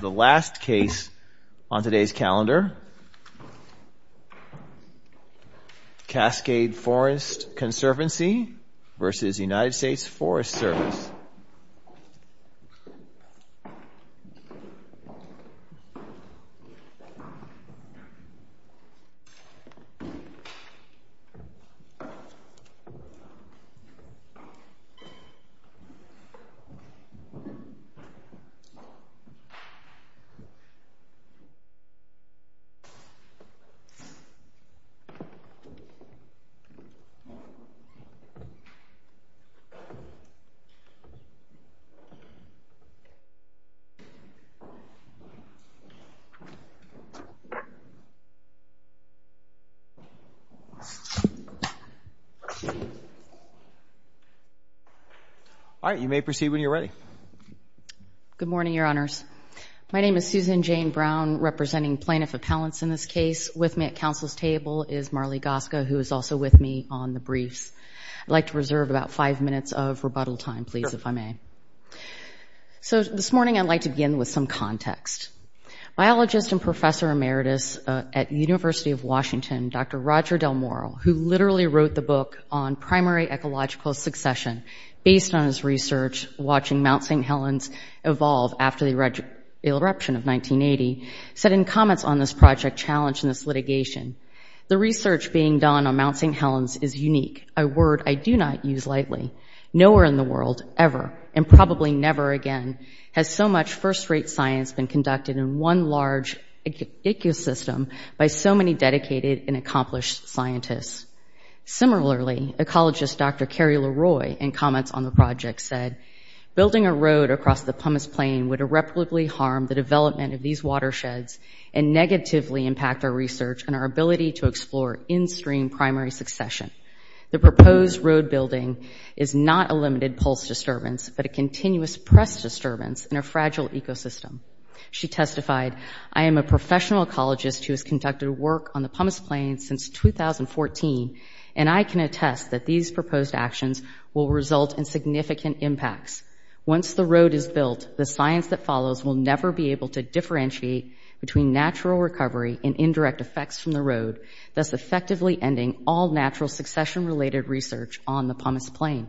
The last case on today's calendar, Cascade Forest Conservancy v. United States Forest Service. All right. You may proceed when you're ready. Good morning, your honors. My name is Susan Jane Brown, representing plaintiff appellants in this case. With me at council's table is Marlee Goska, who is also with me on the briefs. I'd like to reserve about five minutes of rebuttal time, please, if I may. So this morning, I'd like to begin with some context. Biologist and professor emeritus at University of Washington, Dr. Roger Del Moral, who literally St. Helens evolve after the eruption of 1980, said in comments on this project challenge and this litigation, the research being done on Mount St. Helens is unique, a word I do not use lightly. Nowhere in the world, ever, and probably never again, has so much first-rate science been conducted in one large ecosystem by so many dedicated and accomplished scientists. Similarly, ecologist Dr. Carrie LaRoy, in comments on the project, said, building a road across the Pumice Plain would irreparably harm the development of these watersheds and negatively impact our research and our ability to explore in-stream primary succession. The proposed road building is not a limited pulse disturbance, but a continuous press disturbance in a fragile ecosystem. She testified, I am a professional ecologist who has conducted work on the Pumice Plain since 2014, and I can attest that these proposed actions will result in significant impacts. Once the road is built, the science that follows will never be able to differentiate between natural recovery and indirect effects from the road, thus effectively ending all natural succession-related research on the Pumice Plain.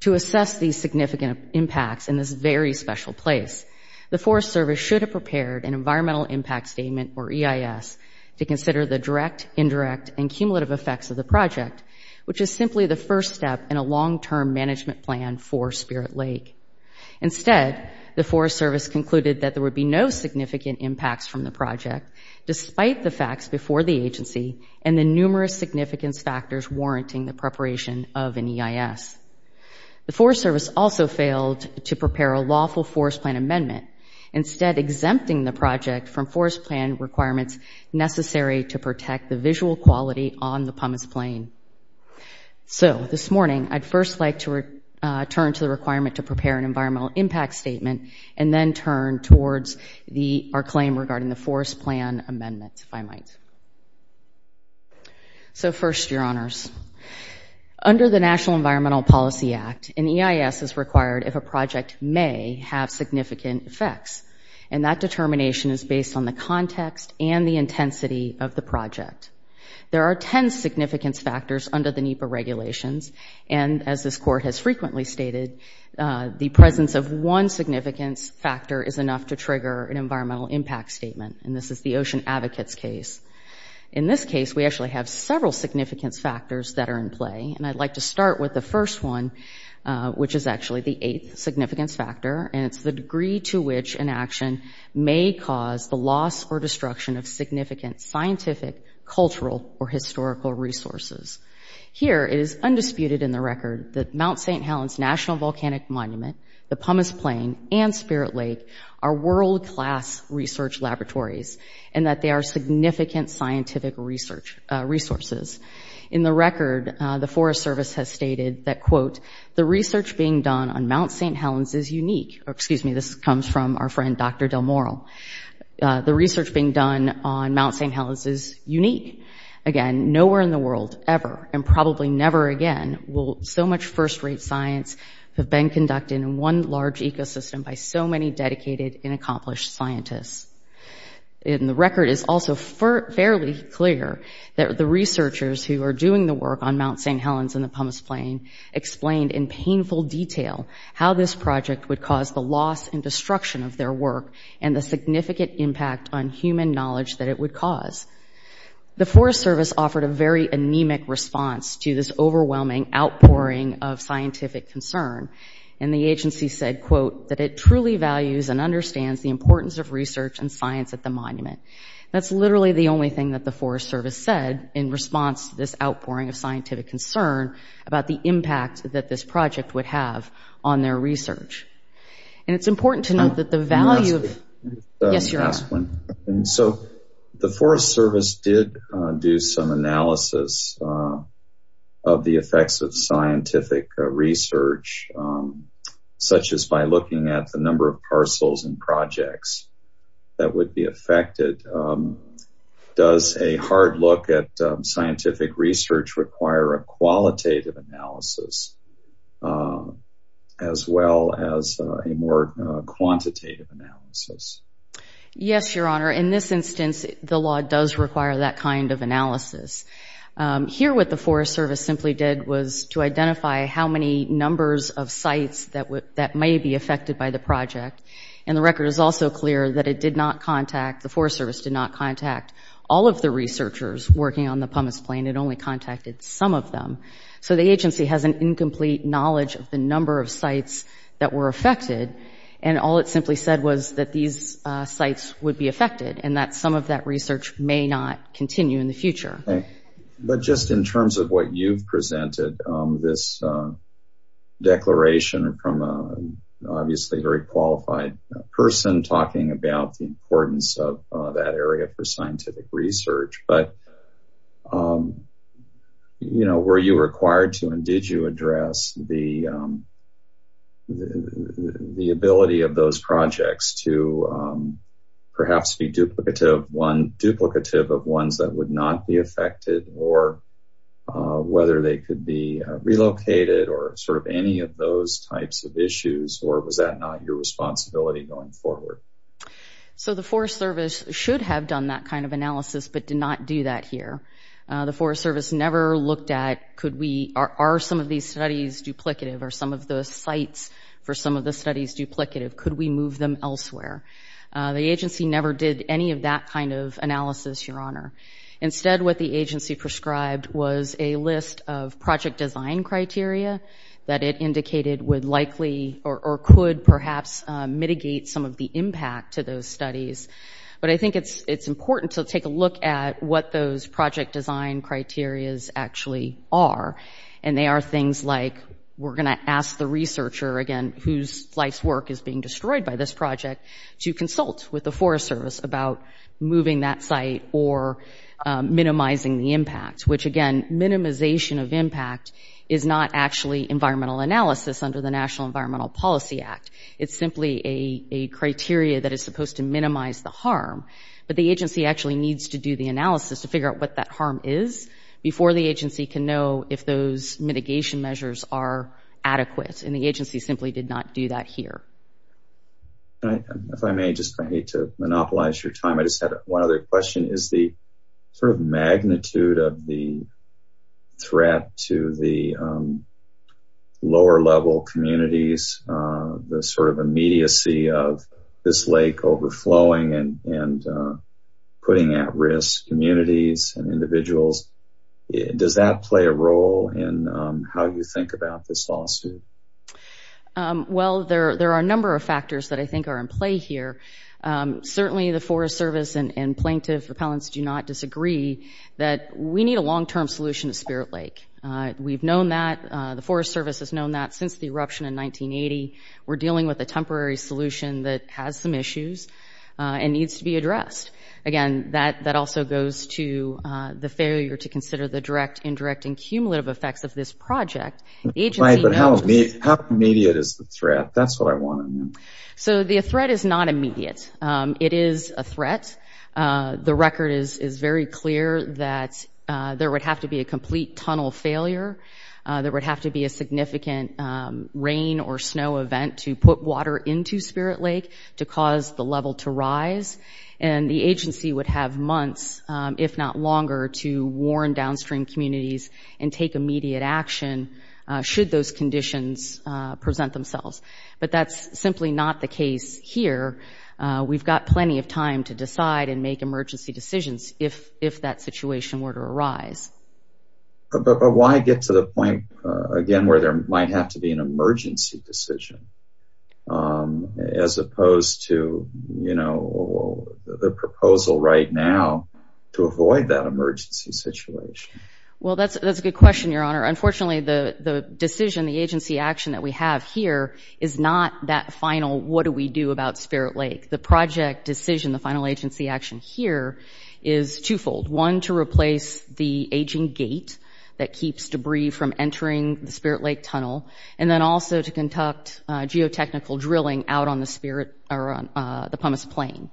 To assess these significant impacts in this very special place, the Forest Service should have prepared an Environmental Impact Statement, or EIS, to consider the direct, indirect, and cumulative effects of the project, which is simply the first step in a long-term management plan for Spirit Lake. Instead, the Forest Service concluded that there would be no significant impacts from the project, despite the facts before the agency and the numerous significance factors warranting the preparation of an EIS. The Forest Service also failed to prepare a lawful forest plan amendment, instead exempting the project from forest plan requirements necessary to protect the visual quality on the Pumice Plain. So this morning, I'd first like to return to the requirement to prepare an Environmental Impact Statement, and then turn towards our claim regarding the forest plan amendment, if I might. So first, Your Honors. Under the National Environmental Policy Act, an EIS is required if a project may have significant effects. And that determination is based on the context and the intensity of the project. There are 10 significance factors under the NEPA regulations. And as this Court has frequently stated, the presence of one significance factor is enough to trigger an Environmental Impact Statement, and this is the Ocean Advocates case. In this case, we actually have several significance factors that are in play, and I'd like to start with the first one, which is actually the eighth significance factor, and it's the degree to which an action may cause the loss or destruction of significant scientific, cultural, or historical resources. Here it is undisputed in the record that Mount St. Helens National Volcanic Monument, the research resources. In the record, the Forest Service has stated that, quote, the research being done on Mount St. Helens is unique. Excuse me, this comes from our friend, Dr. Del Moral. The research being done on Mount St. Helens is unique. Again, nowhere in the world, ever, and probably never again, will so much first-rate science have been conducted in one large ecosystem by so many dedicated and accomplished scientists. In the record, it's also fairly clear that the researchers who are doing the work on Mount St. Helens and the Pumice Plain explained in painful detail how this project would cause the loss and destruction of their work and the significant impact on human knowledge that it would cause. The Forest Service offered a very anemic response to this overwhelming outpouring of scientific concern, and the agency said, quote, that it truly values and understands the importance of research and science at the monument. That's literally the only thing that the Forest Service said in response to this outpouring of scientific concern about the impact that this project would have on their research. And it's important to note that the value of- Can I ask a- Yes, you're welcome. Can I ask one? So, the Forest Service did do some analysis of the effects of scientific research, such as by looking at the number of parcels and projects that would be affected. Does a hard look at scientific research require a qualitative analysis as well as a more quantitative analysis? Yes, Your Honor. In this instance, the law does require that kind of analysis. Here what the Forest Service simply did was to identify how many numbers of sites that may be affected by the project, and the record is also clear that it did not contact- the Forest Service did not contact all of the researchers working on the Pumice Plain. It only contacted some of them. So the agency has an incomplete knowledge of the number of sites that were affected, and all it simply said was that these sites would be affected and that some of that research may not continue in the future. But just in terms of what you've presented, this declaration from an obviously very qualified person talking about the importance of that area for scientific research, but were you required to and did you address the ability of those projects to perhaps be duplicative of ones that would not be affected or whether they could be relocated or sort of any of those types of issues, or was that not your responsibility going forward? So the Forest Service should have done that kind of analysis but did not do that here. The Forest Service never looked at could we- are some of these studies duplicative or some of those sites for some of the studies duplicative? Could we move them elsewhere? The agency never did any of that kind of analysis, Your Honor. Instead, what the agency prescribed was a list of project design criteria that it indicated would likely or could perhaps mitigate some of the impact to those studies. But I think it's important to take a look at what those project design criterias actually are. And they are things like we're going to ask the researcher, again, whose life's work is being destroyed by this project, to consult with the Forest Service about moving that site or minimizing the impact, which, again, minimization of impact is not actually environmental analysis under the National Environmental Policy Act. It's simply a criteria that is supposed to minimize the harm, but the agency actually needs to do the analysis to figure out what that harm is before the agency can know if those mitigation measures are adequate. And the agency simply did not do that here. If I may, just I hate to monopolize your time. I just have one other question. Is the sort of magnitude of the threat to the lower level communities, the sort of immediacy of this lake overflowing and putting at risk communities and individuals, does that play a role in how you think about this lawsuit? Well, there are a number of factors that I think are in play here. Certainly the Forest Service and plaintiff repellents do not disagree that we need a long-term solution to Spirit Lake. We've known that. The Forest Service has known that since the eruption in 1980. We're dealing with a temporary solution that has some issues and needs to be addressed. Again, that also goes to the failure to consider the direct, indirect, and cumulative effects of this project. The agency knows... Right, but how immediate is the threat? That's what I want to know. So the threat is not immediate. It is a threat. The record is very clear that there would have to be a complete tunnel failure. There would have to be a significant rain or snow event to put water into Spirit Lake to cause the level to rise. The agency would have months, if not longer, to warn downstream communities and take immediate action should those conditions present themselves. But that's simply not the case here. We've got plenty of time to decide and make emergency decisions if that situation were to arise. But why get to the point, again, where there might have to be an emergency decision as the proposal right now to avoid that emergency situation? Well, that's a good question, Your Honor. Unfortunately, the decision, the agency action that we have here is not that final, what do we do about Spirit Lake? The project decision, the final agency action here is twofold. One to replace the aging gate that keeps debris from entering the Spirit Lake tunnel, and then also to conduct geotechnical drilling out on the Spirit – or on the Pumice Plain.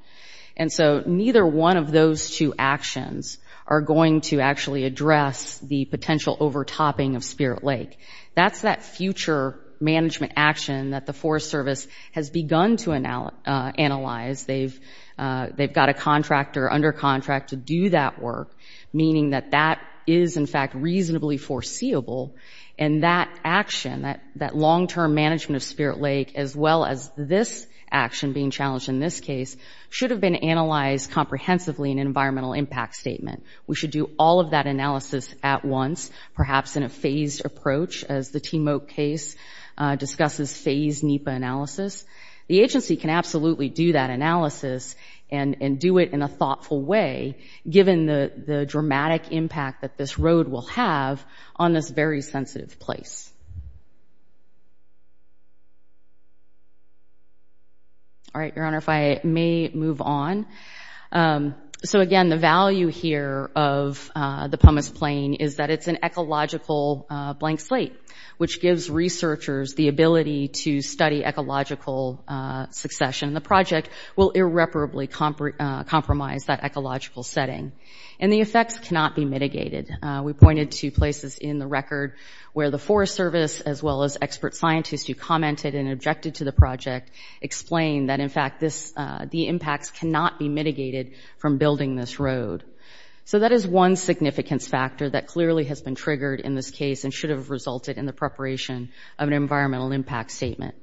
And so neither one of those two actions are going to actually address the potential overtopping of Spirit Lake. That's that future management action that the Forest Service has begun to analyze. They've got a contractor under contract to do that work, meaning that that is in fact reasonably foreseeable. And that action, that long-term management of Spirit Lake, as well as this action being challenged in this case, should have been analyzed comprehensively in an environmental impact statement. We should do all of that analysis at once, perhaps in a phased approach, as the Timok case discusses phased NEPA analysis. The agency can absolutely do that analysis and do it in a thoughtful way, given the dramatic impact that this road will have on this very sensitive place. All right, Your Honor, if I may move on. So again, the value here of the Pumice Plain is that it's an ecological blank slate, which gives researchers the ability to study ecological succession. The project will irreparably compromise that ecological setting. And the effects cannot be mitigated. We pointed to places in the record where the Forest Service, as well as expert scientists who commented and objected to the project, explained that, in fact, this – the impacts cannot be mitigated from building this road. So that is one significance factor that clearly has been triggered in this case and should have resulted in the preparation of an environmental impact statement.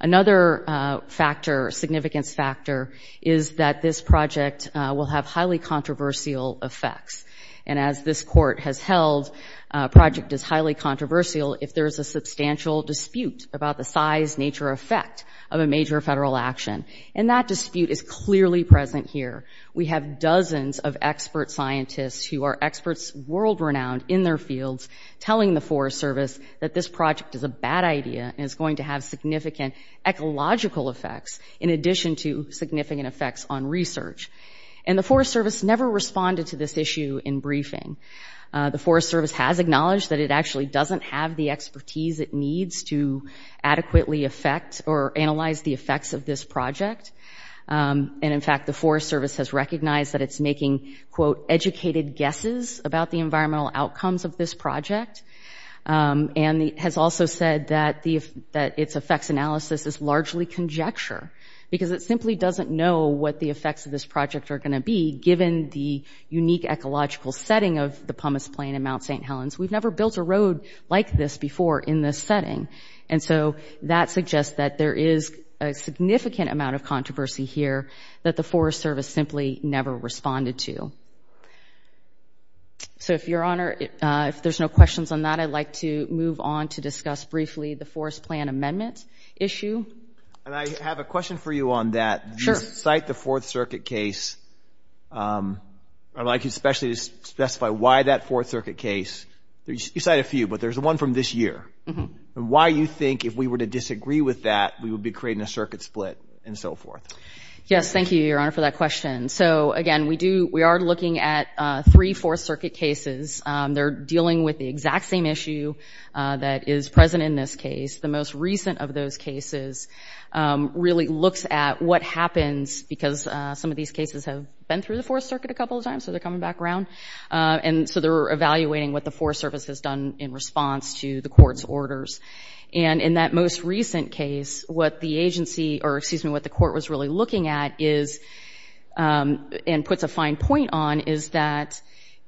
Another factor – significance factor is that this project will have highly controversial effects. And as this Court has held, a project is highly controversial if there is a substantial dispute about the size, nature, or effect of a major federal action. And that dispute is clearly present here. We have dozens of expert scientists who are experts, world-renowned in their fields, telling the Forest Service that this project is a bad idea and is going to have significant ecological effects in addition to significant effects on research. And the Forest Service never responded to this issue in briefing. The Forest Service has acknowledged that it actually doesn't have the expertise it needs to adequately affect or analyze the effects of this project. And in fact, the Forest Service has recognized that it's making, quote, educated guesses about the environmental outcomes of this project and has also said that its effects analysis is largely conjecture because it simply doesn't know what the effects of this project are going to be given the unique ecological setting of the Pumice Plain and Mount St. Helens. We've never built a road like this before in this setting. And so that suggests that there is a significant amount of controversy here that the Forest Service simply never responded to. So, if Your Honor, if there's no questions on that, I'd like to move on to discuss briefly the Forest Plan Amendment issue. And I have a question for you on that. Sure. You cite the Fourth Circuit case, I'd like you especially to specify why that Fourth Circuit case, you cite a few, but there's one from this year. Why you think if we were to disagree with that, we would be creating a circuit split and so forth? Yes. Thank you, Your Honor, for that question. So, again, we do, we are looking at three Fourth Circuit cases. They're dealing with the exact same issue that is present in this case. The most recent of those cases really looks at what happens because some of these cases have been through the Fourth Circuit a couple of times, so they're coming back around. And so they're evaluating what the Forest Service has done in response to the court's orders. And in that most recent case, what the agency, or excuse me, what the court was really looking at is, and puts a fine point on, is that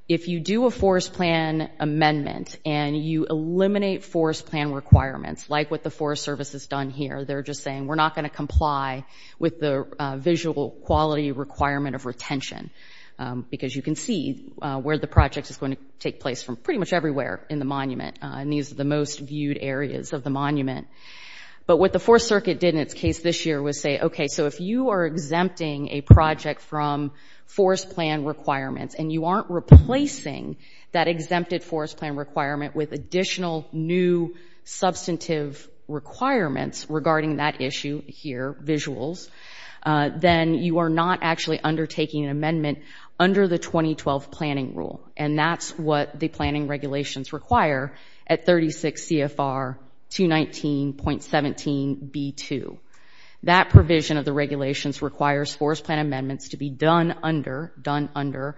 if you do a Forest Plan Amendment and you eliminate Forest Plan requirements, like what the Forest Service has done here, they're just saying, we're not going to comply with the visual quality requirement of retention because you can see where the project is going to take place from pretty much everywhere in the monument. And these are the most viewed areas of the monument. But what the Fourth Circuit did in its case this year was say, okay, so if you are exempting a project from Forest Plan requirements and you aren't replacing that exempted Forest Plan requirement with additional new substantive requirements regarding that issue here, visuals, then you are not actually undertaking an amendment under the 2012 planning rule. And that's what the planning regulations require at 36 CFR 219.17b2. That provision of the regulations requires Forest Plan amendments to be done under, done under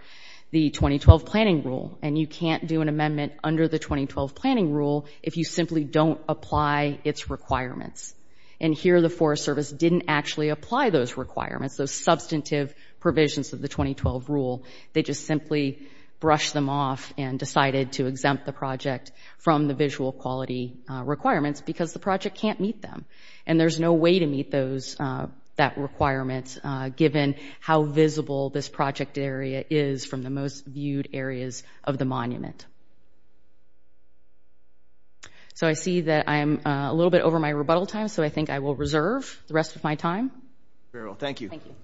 the 2012 planning rule. And you can't do an amendment under the 2012 planning rule if you simply don't apply its requirements. And here the Forest Service didn't actually apply those requirements, those substantive provisions of the 2012 rule. They just simply brushed them off and decided to exempt the project from the visual quality requirements because the project can't meet them. And there's no way to meet those, that requirement given how visible this project area is from the most viewed areas of the monument. So I see that I am a little bit over my rebuttal time, so I think I will reserve the rest of my time. Very well, thank you. Thank you.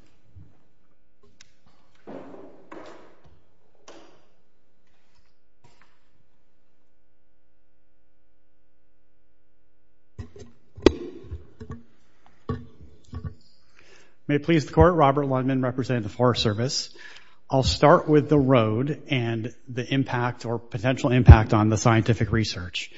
May it please the Court, Robert Lundman representing the Forest Service. I'll start with the road and the impact or potential impact on the scientific research.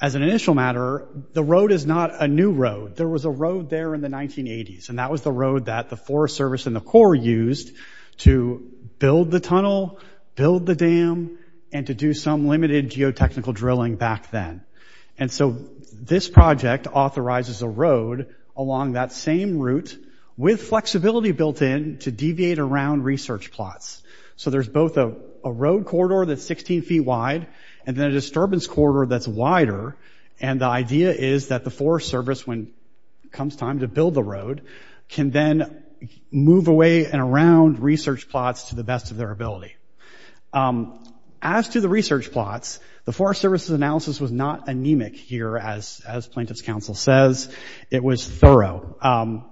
As an initial matter, the road is not a new road. There was a road there in the 1980s, and that was the road that the Forest Service and the Corps used to build the tunnel, build the dam, and to do some limited geotechnical drilling back then. And so this project authorizes a road along that same route with flexibility built in to deviate around research plots. So there's both a road corridor that's 16 feet wide and then a disturbance corridor that's wider. And the idea is that the Forest Service, when it comes time to build the road, can then move away and around research plots to the best of their ability. As to the research plots, the Forest Service's analysis was not anemic here, as Plaintiff's Counsel says. It was thorough.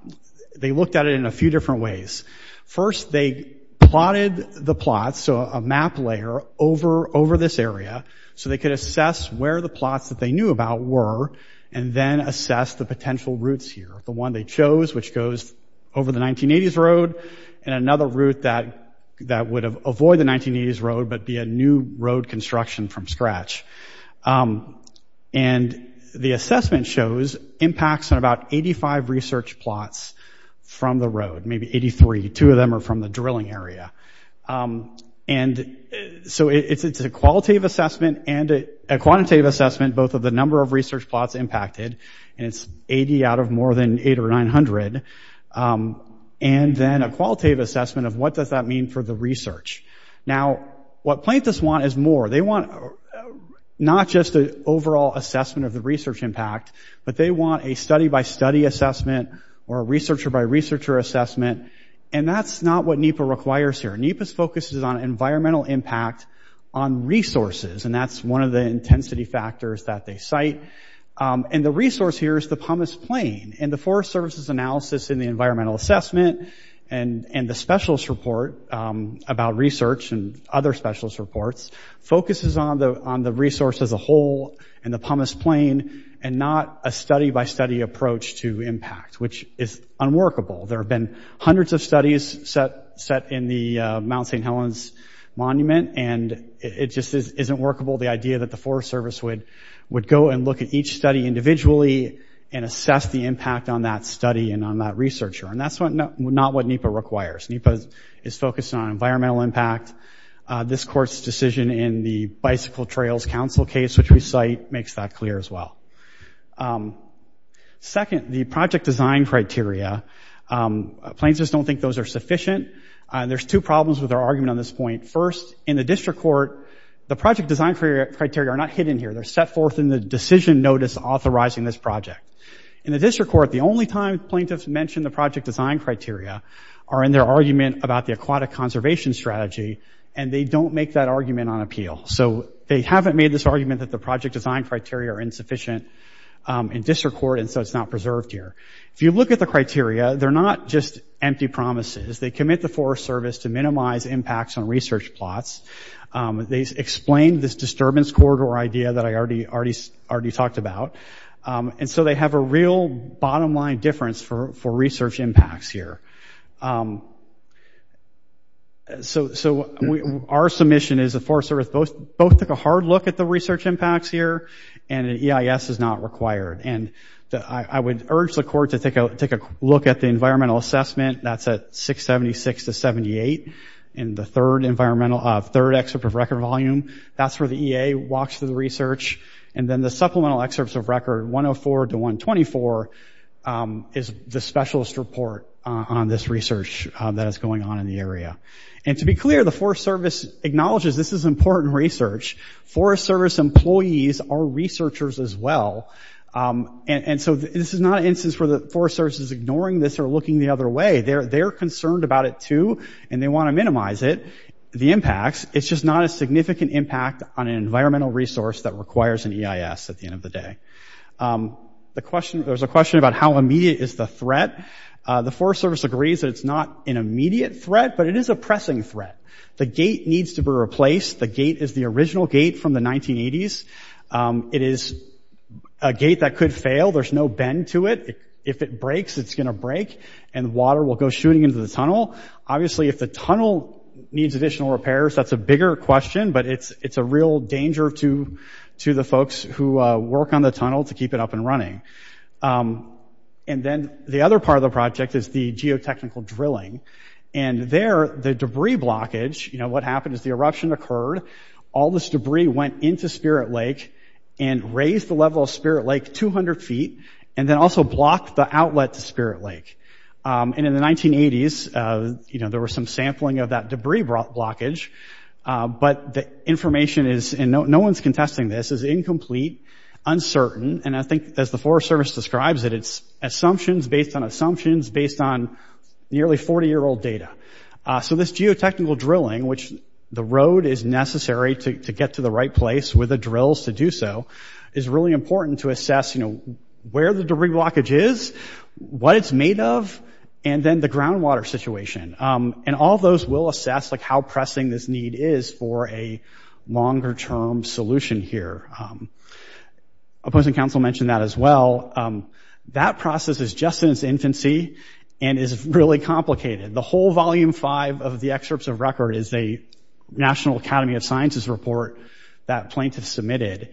They looked at it in a few different ways. First, they plotted the plots, so a map layer, over this area so they could assess where the plots that they knew about were and then assess the potential routes here, the one they chose, which goes over the 1980s road and another route that would avoid the 1980s road but be a new road construction from scratch. And the assessment shows impacts on about 85 research plots from the road, maybe 83. Two of them are from the drilling area. And so it's a qualitative assessment and a quantitative assessment, both of the number of research plots impacted, and it's 80 out of more than 800 or 900, and then a qualitative assessment of what does that mean for the research. Now what Plaintiffs want is more. They want not just an overall assessment of the research impact, but they want a study by study assessment or a researcher by researcher assessment, and that's not what NEPA requires here. NEPA's focus is on environmental impact on resources, and that's one of the intensity factors that they cite. And the resource here is the Pumice Plain, and the Forest Service's analysis in the environmental assessment and the specialist report about research and other specialist reports focuses on the resource as a whole and the Pumice Plain and not a study by study approach to impact, which is unworkable. There have been hundreds of studies set in the Mount St. Helens monument, and it just isn't workable, the idea that the Forest Service would go and look at each study individually and assess the impact on that study and on that researcher, and that's not what NEPA requires. NEPA is focused on environmental impact. This court's decision in the Bicycle Trails Council case, which we cite, makes that clear as well. Second, the project design criteria, plaintiffs don't think those are sufficient. There's two problems with our argument on this point. First, in the district court, the project design criteria are not hidden here. They're set forth in the decision notice authorizing this project. In the district court, the only time plaintiffs mention the project design criteria are in their argument about the aquatic conservation strategy, and they don't make that argument on appeal. So they haven't made this argument that the project design criteria are insufficient in district court, and so it's not preserved here. If you look at the criteria, they're not just empty promises. They commit the Forest Service to minimize impacts on research plots. They explain this disturbance corridor idea that I already talked about, and so they have a real bottom-line difference for research impacts here. So our submission is the Forest Service both took a hard look at the research impacts here, and an EIS is not required, and I would urge the court to take a look at the environmental assessment that's at 676 to 78 in the third environmental, third excerpt of record volume. That's where the EA walks through the research, and then the supplemental excerpts of record 104 to 124 is the specialist report on this research that is going on in the area. And to be clear, the Forest Service acknowledges this is important research. Forest Service employees are researchers as well, and so this is not an instance where the Forest Service is ignoring this or looking the other way. They're concerned about it too, and they want to minimize it, the impacts. It's just not a significant impact on an environmental resource that requires an EIS at the end of the day. The question – there's a question about how immediate is the threat. The Forest Service agrees that it's not an immediate threat, but it is a pressing threat. The gate needs to be replaced. The gate is the original gate from the 1980s. It is a gate that could fail. There's no bend to it. If it breaks, it's going to break, and water will go shooting into the tunnel. Obviously if the tunnel needs additional repairs, that's a bigger question, but it's a real danger to the folks who work on the tunnel to keep it up and running. And then the other part of the project is the geotechnical drilling. And there, the debris blockage – you know, what happened is the eruption occurred. All this debris went into Spirit Lake and raised the level of Spirit Lake 200 feet and then also blocked the outlet to Spirit Lake. And in the 1980s, you know, there was some sampling of that debris blockage, but the – no one's contesting this – is incomplete, uncertain, and I think as the Forest Service describes it, it's assumptions based on assumptions based on nearly 40-year-old data. So this geotechnical drilling, which the road is necessary to get to the right place with the drills to do so, is really important to assess, you know, where the debris blockage is, what it's made of, and then the groundwater situation. And all those will assess, like, how pressing this need is for a longer-term solution here. Opposing Council mentioned that as well. That process is just in its infancy and is really complicated. The whole volume 5 of the excerpts of record is a National Academy of Sciences report that plaintiffs submitted,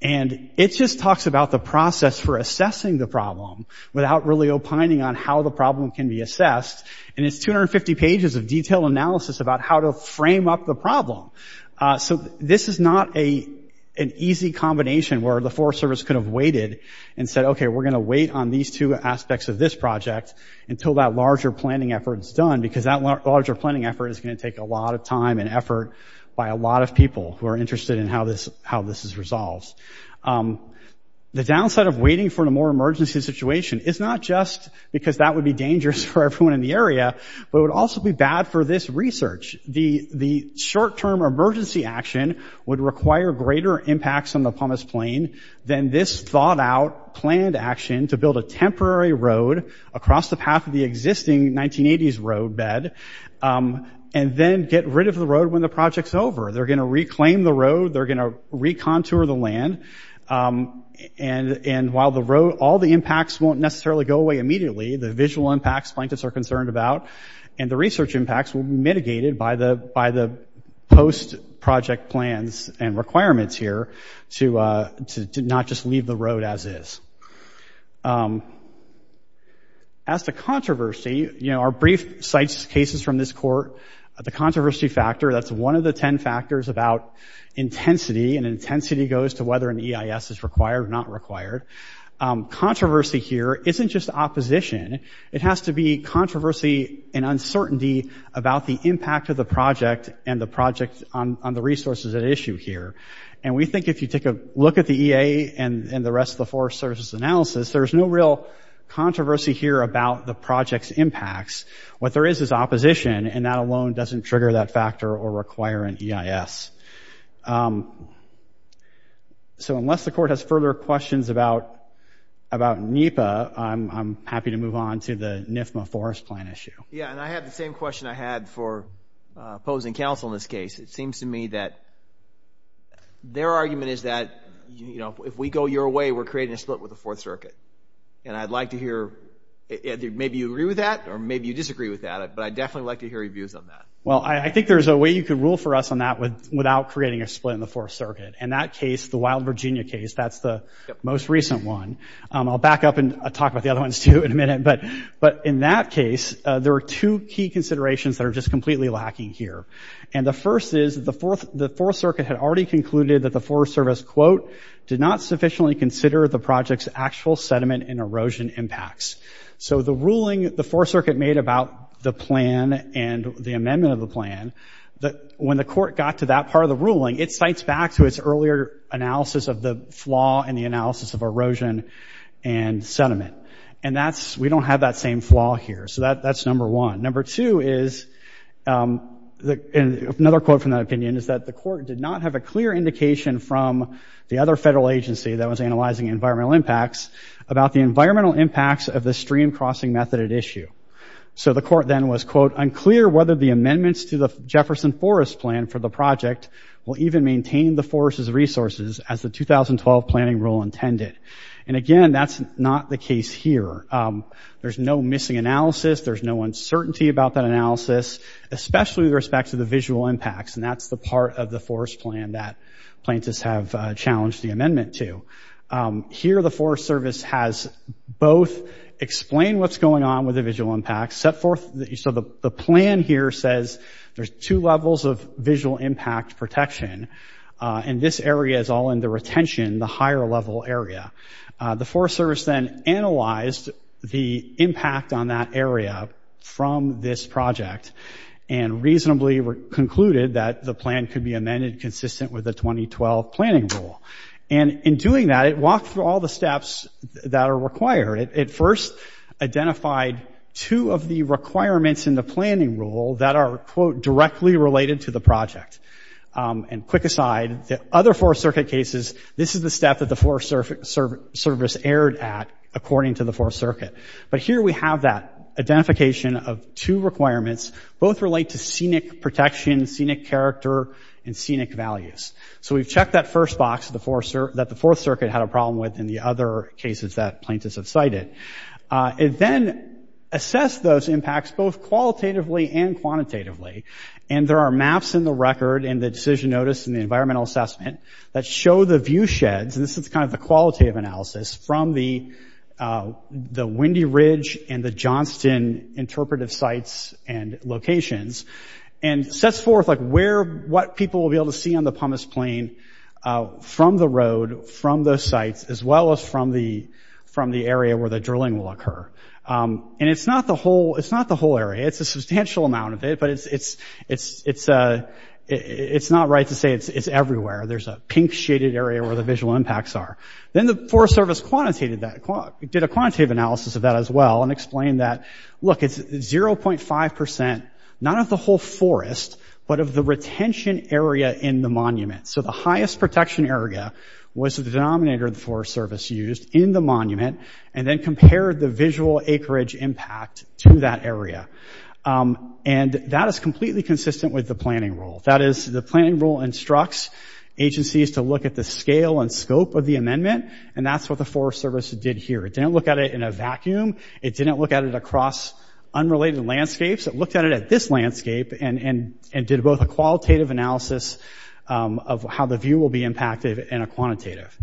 and it just talks about the process for assessing the problem without really opining on how the problem can be assessed. And it's 250 pages of detailed analysis about how to frame up the problem. So this is not an easy combination where the Forest Service could have waited and said, okay, we're going to wait on these two aspects of this project until that larger planning effort is done, because that larger planning effort is going to take a lot of time and effort by a lot of people who are interested in how this is resolved. The downside of waiting for a more emergency situation is not just because that would be bad for the area, but it would also be bad for this research. The short-term emergency action would require greater impacts on the Pumice Plain than this thought-out, planned action to build a temporary road across the path of the existing 1980s roadbed, and then get rid of the road when the project's over. They're going to reclaim the road. They're going to recontour the land. And while the road – all the impacts won't necessarily go away immediately – the visual impacts, plaintiffs are concerned about, and the research impacts will be mitigated by the post-project plans and requirements here to not just leave the road as is. As to controversy, you know, our brief sites – cases from this court, the controversy factor – that's one of the ten factors about intensity, and intensity goes to whether an EIS is required or not required. Controversy here isn't just opposition. It has to be controversy and uncertainty about the impact of the project and the project on the resources at issue here. And we think if you take a look at the EA and the rest of the Forest Service's analysis, there's no real controversy here about the project's impacts. What there is is opposition, and that alone doesn't trigger that factor or require an EIS. So, unless the court has further questions about NEPA, I'm happy to move on to the NFMA forest plan issue. Yeah, and I have the same question I had for opposing counsel in this case. It seems to me that their argument is that, you know, if we go your way, we're creating a split with the Fourth Circuit. And I'd like to hear – maybe you agree with that, or maybe you disagree with that, but I'd definitely like to hear your views on that. Well, I think there's a way you could rule for us on that without creating a split in the Fourth Circuit. In that case, the Wild Virginia case, that's the most recent one. I'll back up and talk about the other ones, too, in a minute. But in that case, there are two key considerations that are just completely lacking here. And the first is the Fourth Circuit had already concluded that the Forest Service, quote, did not sufficiently consider the project's actual sediment and erosion impacts. So the ruling the Fourth Circuit made about the plan and the amendment of the plan, when the court got to that part of the ruling, it cites back to its earlier analysis of the flaw and the analysis of erosion and sediment. And that's – we don't have that same flaw here. So that's number one. Number two is – and another quote from that opinion is that the court did not have a clear indication from the other federal agency that was analyzing environmental impacts about the environmental impacts of the stream-crossing method at issue. So the court then was, quote, unclear whether the amendments to the Jefferson Forest Plan for the project will even maintain the forest's resources as the 2012 planning rule intended. And again, that's not the case here. There's no missing analysis. There's no uncertainty about that analysis, especially with respect to the visual impacts. And that's the part of the Forest Plan that plaintiffs have challenged the amendment to. Here, the Forest Service has both explained what's going on with the visual impacts, set forth – so the plan here says there's two levels of visual impact protection, and this area is all in the retention, the higher-level area. The Forest Service then analyzed the impact on that area from this project and reasonably concluded that the plan could be amended consistent with the 2012 planning rule. And in doing that, it walked through all the steps that are required. It first identified two of the requirements in the planning rule that are, quote, directly related to the project. And quick aside, the other Fourth Circuit cases, this is the step that the Forest Service erred at according to the Fourth Circuit. But here we have that identification of two requirements. Both relate to scenic protection, scenic character, and scenic values. So we've checked that first box that the Fourth Circuit had a problem with in the other cases that plaintiffs have cited. It then assessed those impacts both qualitatively and quantitatively. And there are maps in the record and the decision notice and the environmental assessment that show the viewsheds – and this is kind of the qualitative analysis from the Windy Ridge and the Johnston interpretive sites and locations – and sets forth, like, where – what people will be able to see on the Pumice Plain from the road, from those sites, as well as from the area where the drilling will occur. And it's not the whole area. It's a substantial amount of it, but it's not right to say it's everywhere. There's a pink-shaded area where the visual impacts are. Then the Forest Service quantitated that – did a quantitative analysis of that as well and explained that, look, it's 0.5 percent – not of the whole forest, but of the retention area in the monument. So the highest protection area was the denominator the Forest Service used in the monument, and then compared the visual acreage impact to that area. And that is completely consistent with the planning rule. That is, the planning rule instructs agencies to look at the scale and scope of the amendment, and that's what the Forest Service did here. It didn't look at it in a vacuum. It didn't look at it across unrelated landscapes. It looked at it at this landscape and did both a qualitative analysis of how the view will be impacted and a quantitative.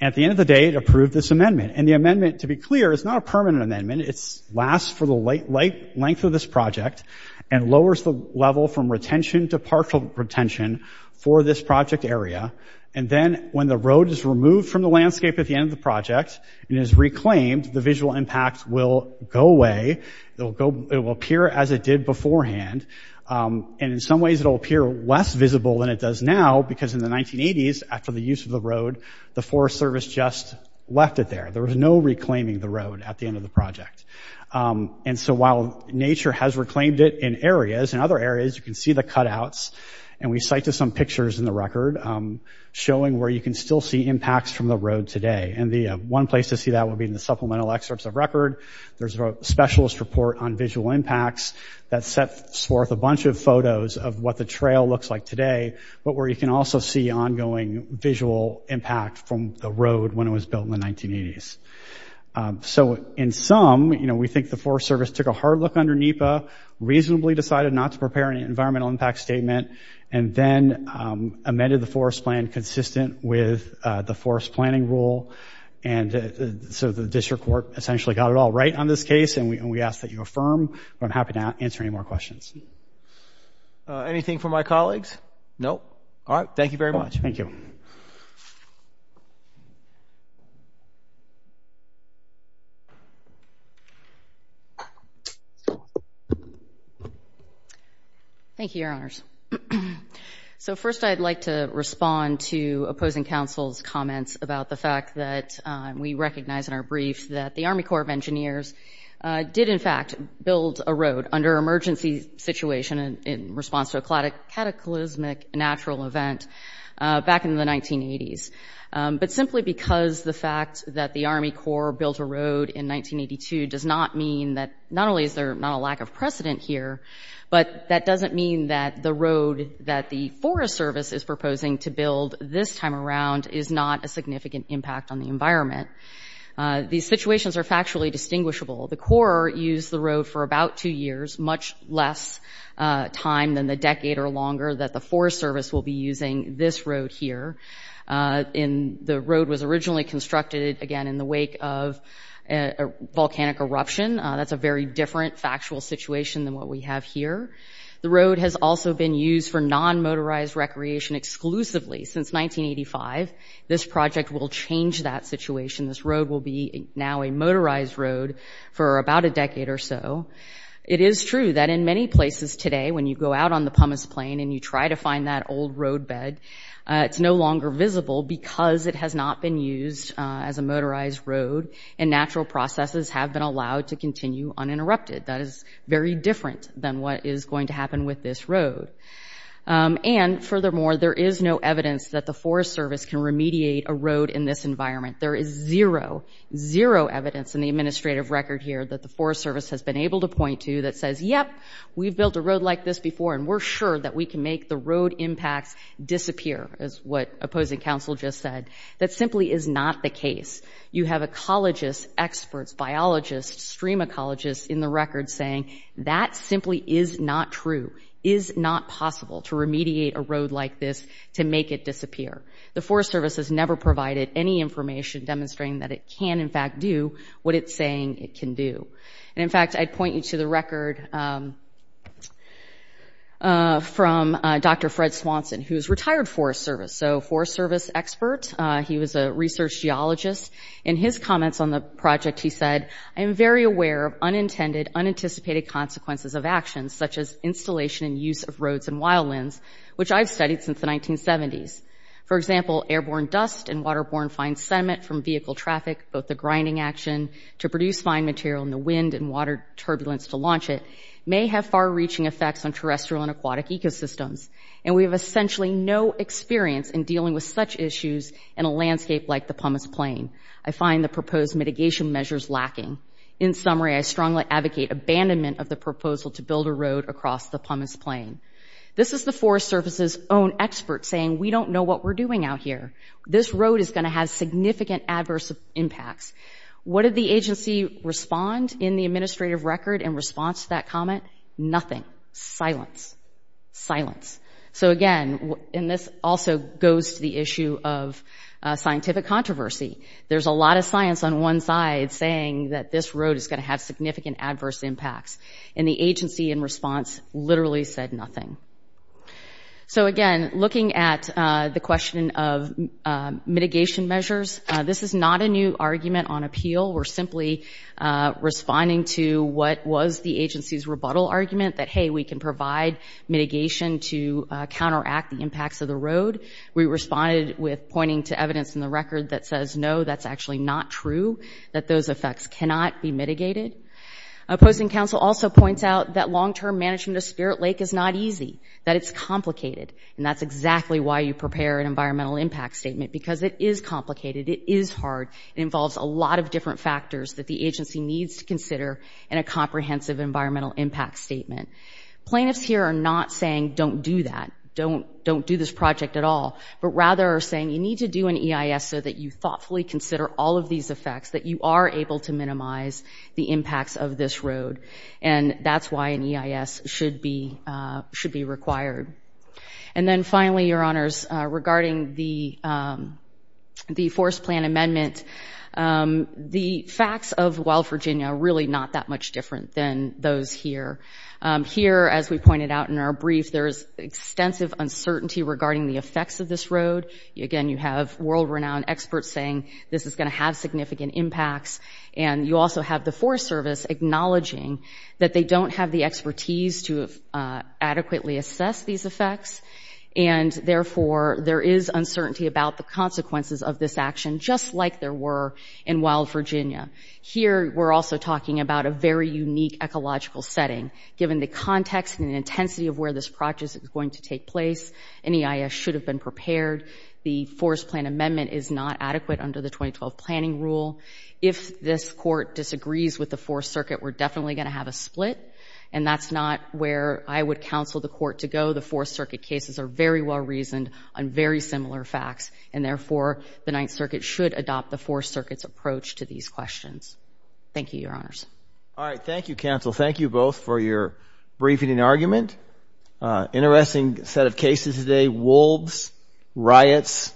At the end of the day, it approved this amendment. And the amendment, to be clear, is not a permanent amendment. It lasts for the length of this project and lowers the level from retention to partial retention for this project area. And then when the road is removed from the landscape at the end of the project and is removed, the visual impact will go away. It will appear as it did beforehand, and in some ways, it will appear less visible than it does now because in the 1980s, after the use of the road, the Forest Service just left it there. There was no reclaiming the road at the end of the project. And so while nature has reclaimed it in areas, in other areas, you can see the cutouts. And we cite to some pictures in the record showing where you can still see impacts from the road today. And the one place to see that would be in the supplemental excerpts of record. There's a specialist report on visual impacts that sets forth a bunch of photos of what the trail looks like today, but where you can also see ongoing visual impact from the road when it was built in the 1980s. So in sum, you know, we think the Forest Service took a hard look under NEPA, reasonably decided not to prepare an environmental impact statement, and then amended the forest plan consistent with the forest planning rule. And so the district court essentially got it all right on this case, and we ask that you affirm. But I'm happy to answer any more questions. Anything from my colleagues? No. All right. Thank you very much. Thank you. Thank you, Your Honors. So first I'd like to respond to opposing counsel's comments about the fact that we recognize in our brief that the Army Corps of Engineers did, in fact, build a road under emergency situation in response to a cataclysmic natural event back in the 1980s. But simply because the fact that the Army Corps built a road in 1982 does not mean that Not only is there not a lack of precedent here, but that doesn't mean that the road that the Forest Service is proposing to build this time around is not a significant impact on the environment. These situations are factually distinguishable. The Corps used the road for about two years, much less time than the decade or longer that the Forest Service will be using this road here. The road was originally constructed, again, in the wake of a volcanic eruption. That's a very different factual situation than what we have here. The road has also been used for non-motorized recreation exclusively since 1985. This project will change that situation. This road will be now a motorized road for about a decade or so. It is true that in many places today, when you go out on the Pumice Plain and you try to find that old road bed, it's no longer visible because it has not been used as a continue uninterrupted. That is very different than what is going to happen with this road. And furthermore, there is no evidence that the Forest Service can remediate a road in this environment. There is zero, zero evidence in the administrative record here that the Forest Service has been able to point to that says, yep, we've built a road like this before and we're sure that we can make the road impacts disappear, as what opposing counsel just said. That simply is not the case. You have ecologists, experts, biologists, stream ecologists in the record saying that simply is not true, is not possible to remediate a road like this to make it disappear. The Forest Service has never provided any information demonstrating that it can in fact do what it's saying it can do. And in fact, I'd point you to the record from Dr. Fred Swanson, who is retired Forest Service. So Forest Service expert, he was a research geologist. In his comments on the project, he said, I am very aware of unintended, unanticipated consequences of actions such as installation and use of roads and wildlands, which I've studied since the 1970s. For example, airborne dust and waterborne fine sediment from vehicle traffic, both the grinding action to produce fine material in the wind and water turbulence to launch it, may have far-reaching effects on terrestrial and aquatic ecosystems. And we have essentially no experience in dealing with such issues in a landscape like the Pumice Plain. I find the proposed mitigation measures lacking. In summary, I strongly advocate abandonment of the proposal to build a road across the Pumice Plain. This is the Forest Service's own expert saying, we don't know what we're doing out here. This road is going to have significant adverse impacts. What did the agency respond in the administrative record in response to that comment? Nothing. Silence. Silence. So, again, and this also goes to the issue of scientific controversy. There's a lot of science on one side saying that this road is going to have significant adverse impacts, and the agency in response literally said nothing. So again, looking at the question of mitigation measures, this is not a new argument on appeal. We're simply responding to what was the agency's rebuttal argument that, hey, we can provide mitigation to counteract the impacts of the road. We responded with pointing to evidence in the record that says, no, that's actually not true, that those effects cannot be mitigated. Posting Council also points out that long-term management of Spirit Lake is not easy, that it's complicated. And that's exactly why you prepare an environmental impact statement, because it is complicated. It is hard. It involves a lot of different factors that the agency needs to consider in a comprehensive environmental impact statement. Plaintiffs here are not saying don't do that, don't do this project at all, but rather are saying you need to do an EIS so that you thoughtfully consider all of these effects, that you are able to minimize the impacts of this road. And that's why an EIS should be required. And then finally, Your Honors, regarding the Forest Plan Amendment, the facts of Weill Virginia are really not that much different than those here. Here, as we pointed out in our brief, there is extensive uncertainty regarding the effects of this road. Again, you have world-renowned experts saying this is going to have significant impacts. And you also have the Forest Service acknowledging that they don't have the expertise to adequately assess these effects. And therefore, there is uncertainty about the consequences of this action, just like there were in Weill Virginia. Here, we're also talking about a very unique ecological setting. Given the context and intensity of where this project is going to take place, an EIS should have been prepared. The Forest Plan Amendment is not adequate under the 2012 Planning Rule. If this Court disagrees with the Fourth Circuit, we're definitely going to have a split. And that's not where I would counsel the Court to go. The Fourth Circuit cases are very well-reasoned on very similar facts. And therefore, the Ninth Circuit should adopt the Fourth Circuit's approach to these questions. Thank you, Your Honors. All right. Thank you, Counsel. Thank you both for your briefing and argument. Interesting set of cases today, wolves, riots,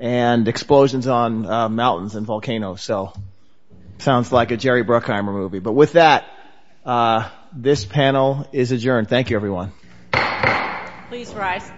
and explosions on mountains and volcanoes. So it sounds like a Jerry Bruckheimer movie. But with that, this panel is adjourned. Thank you, everyone. Please rise.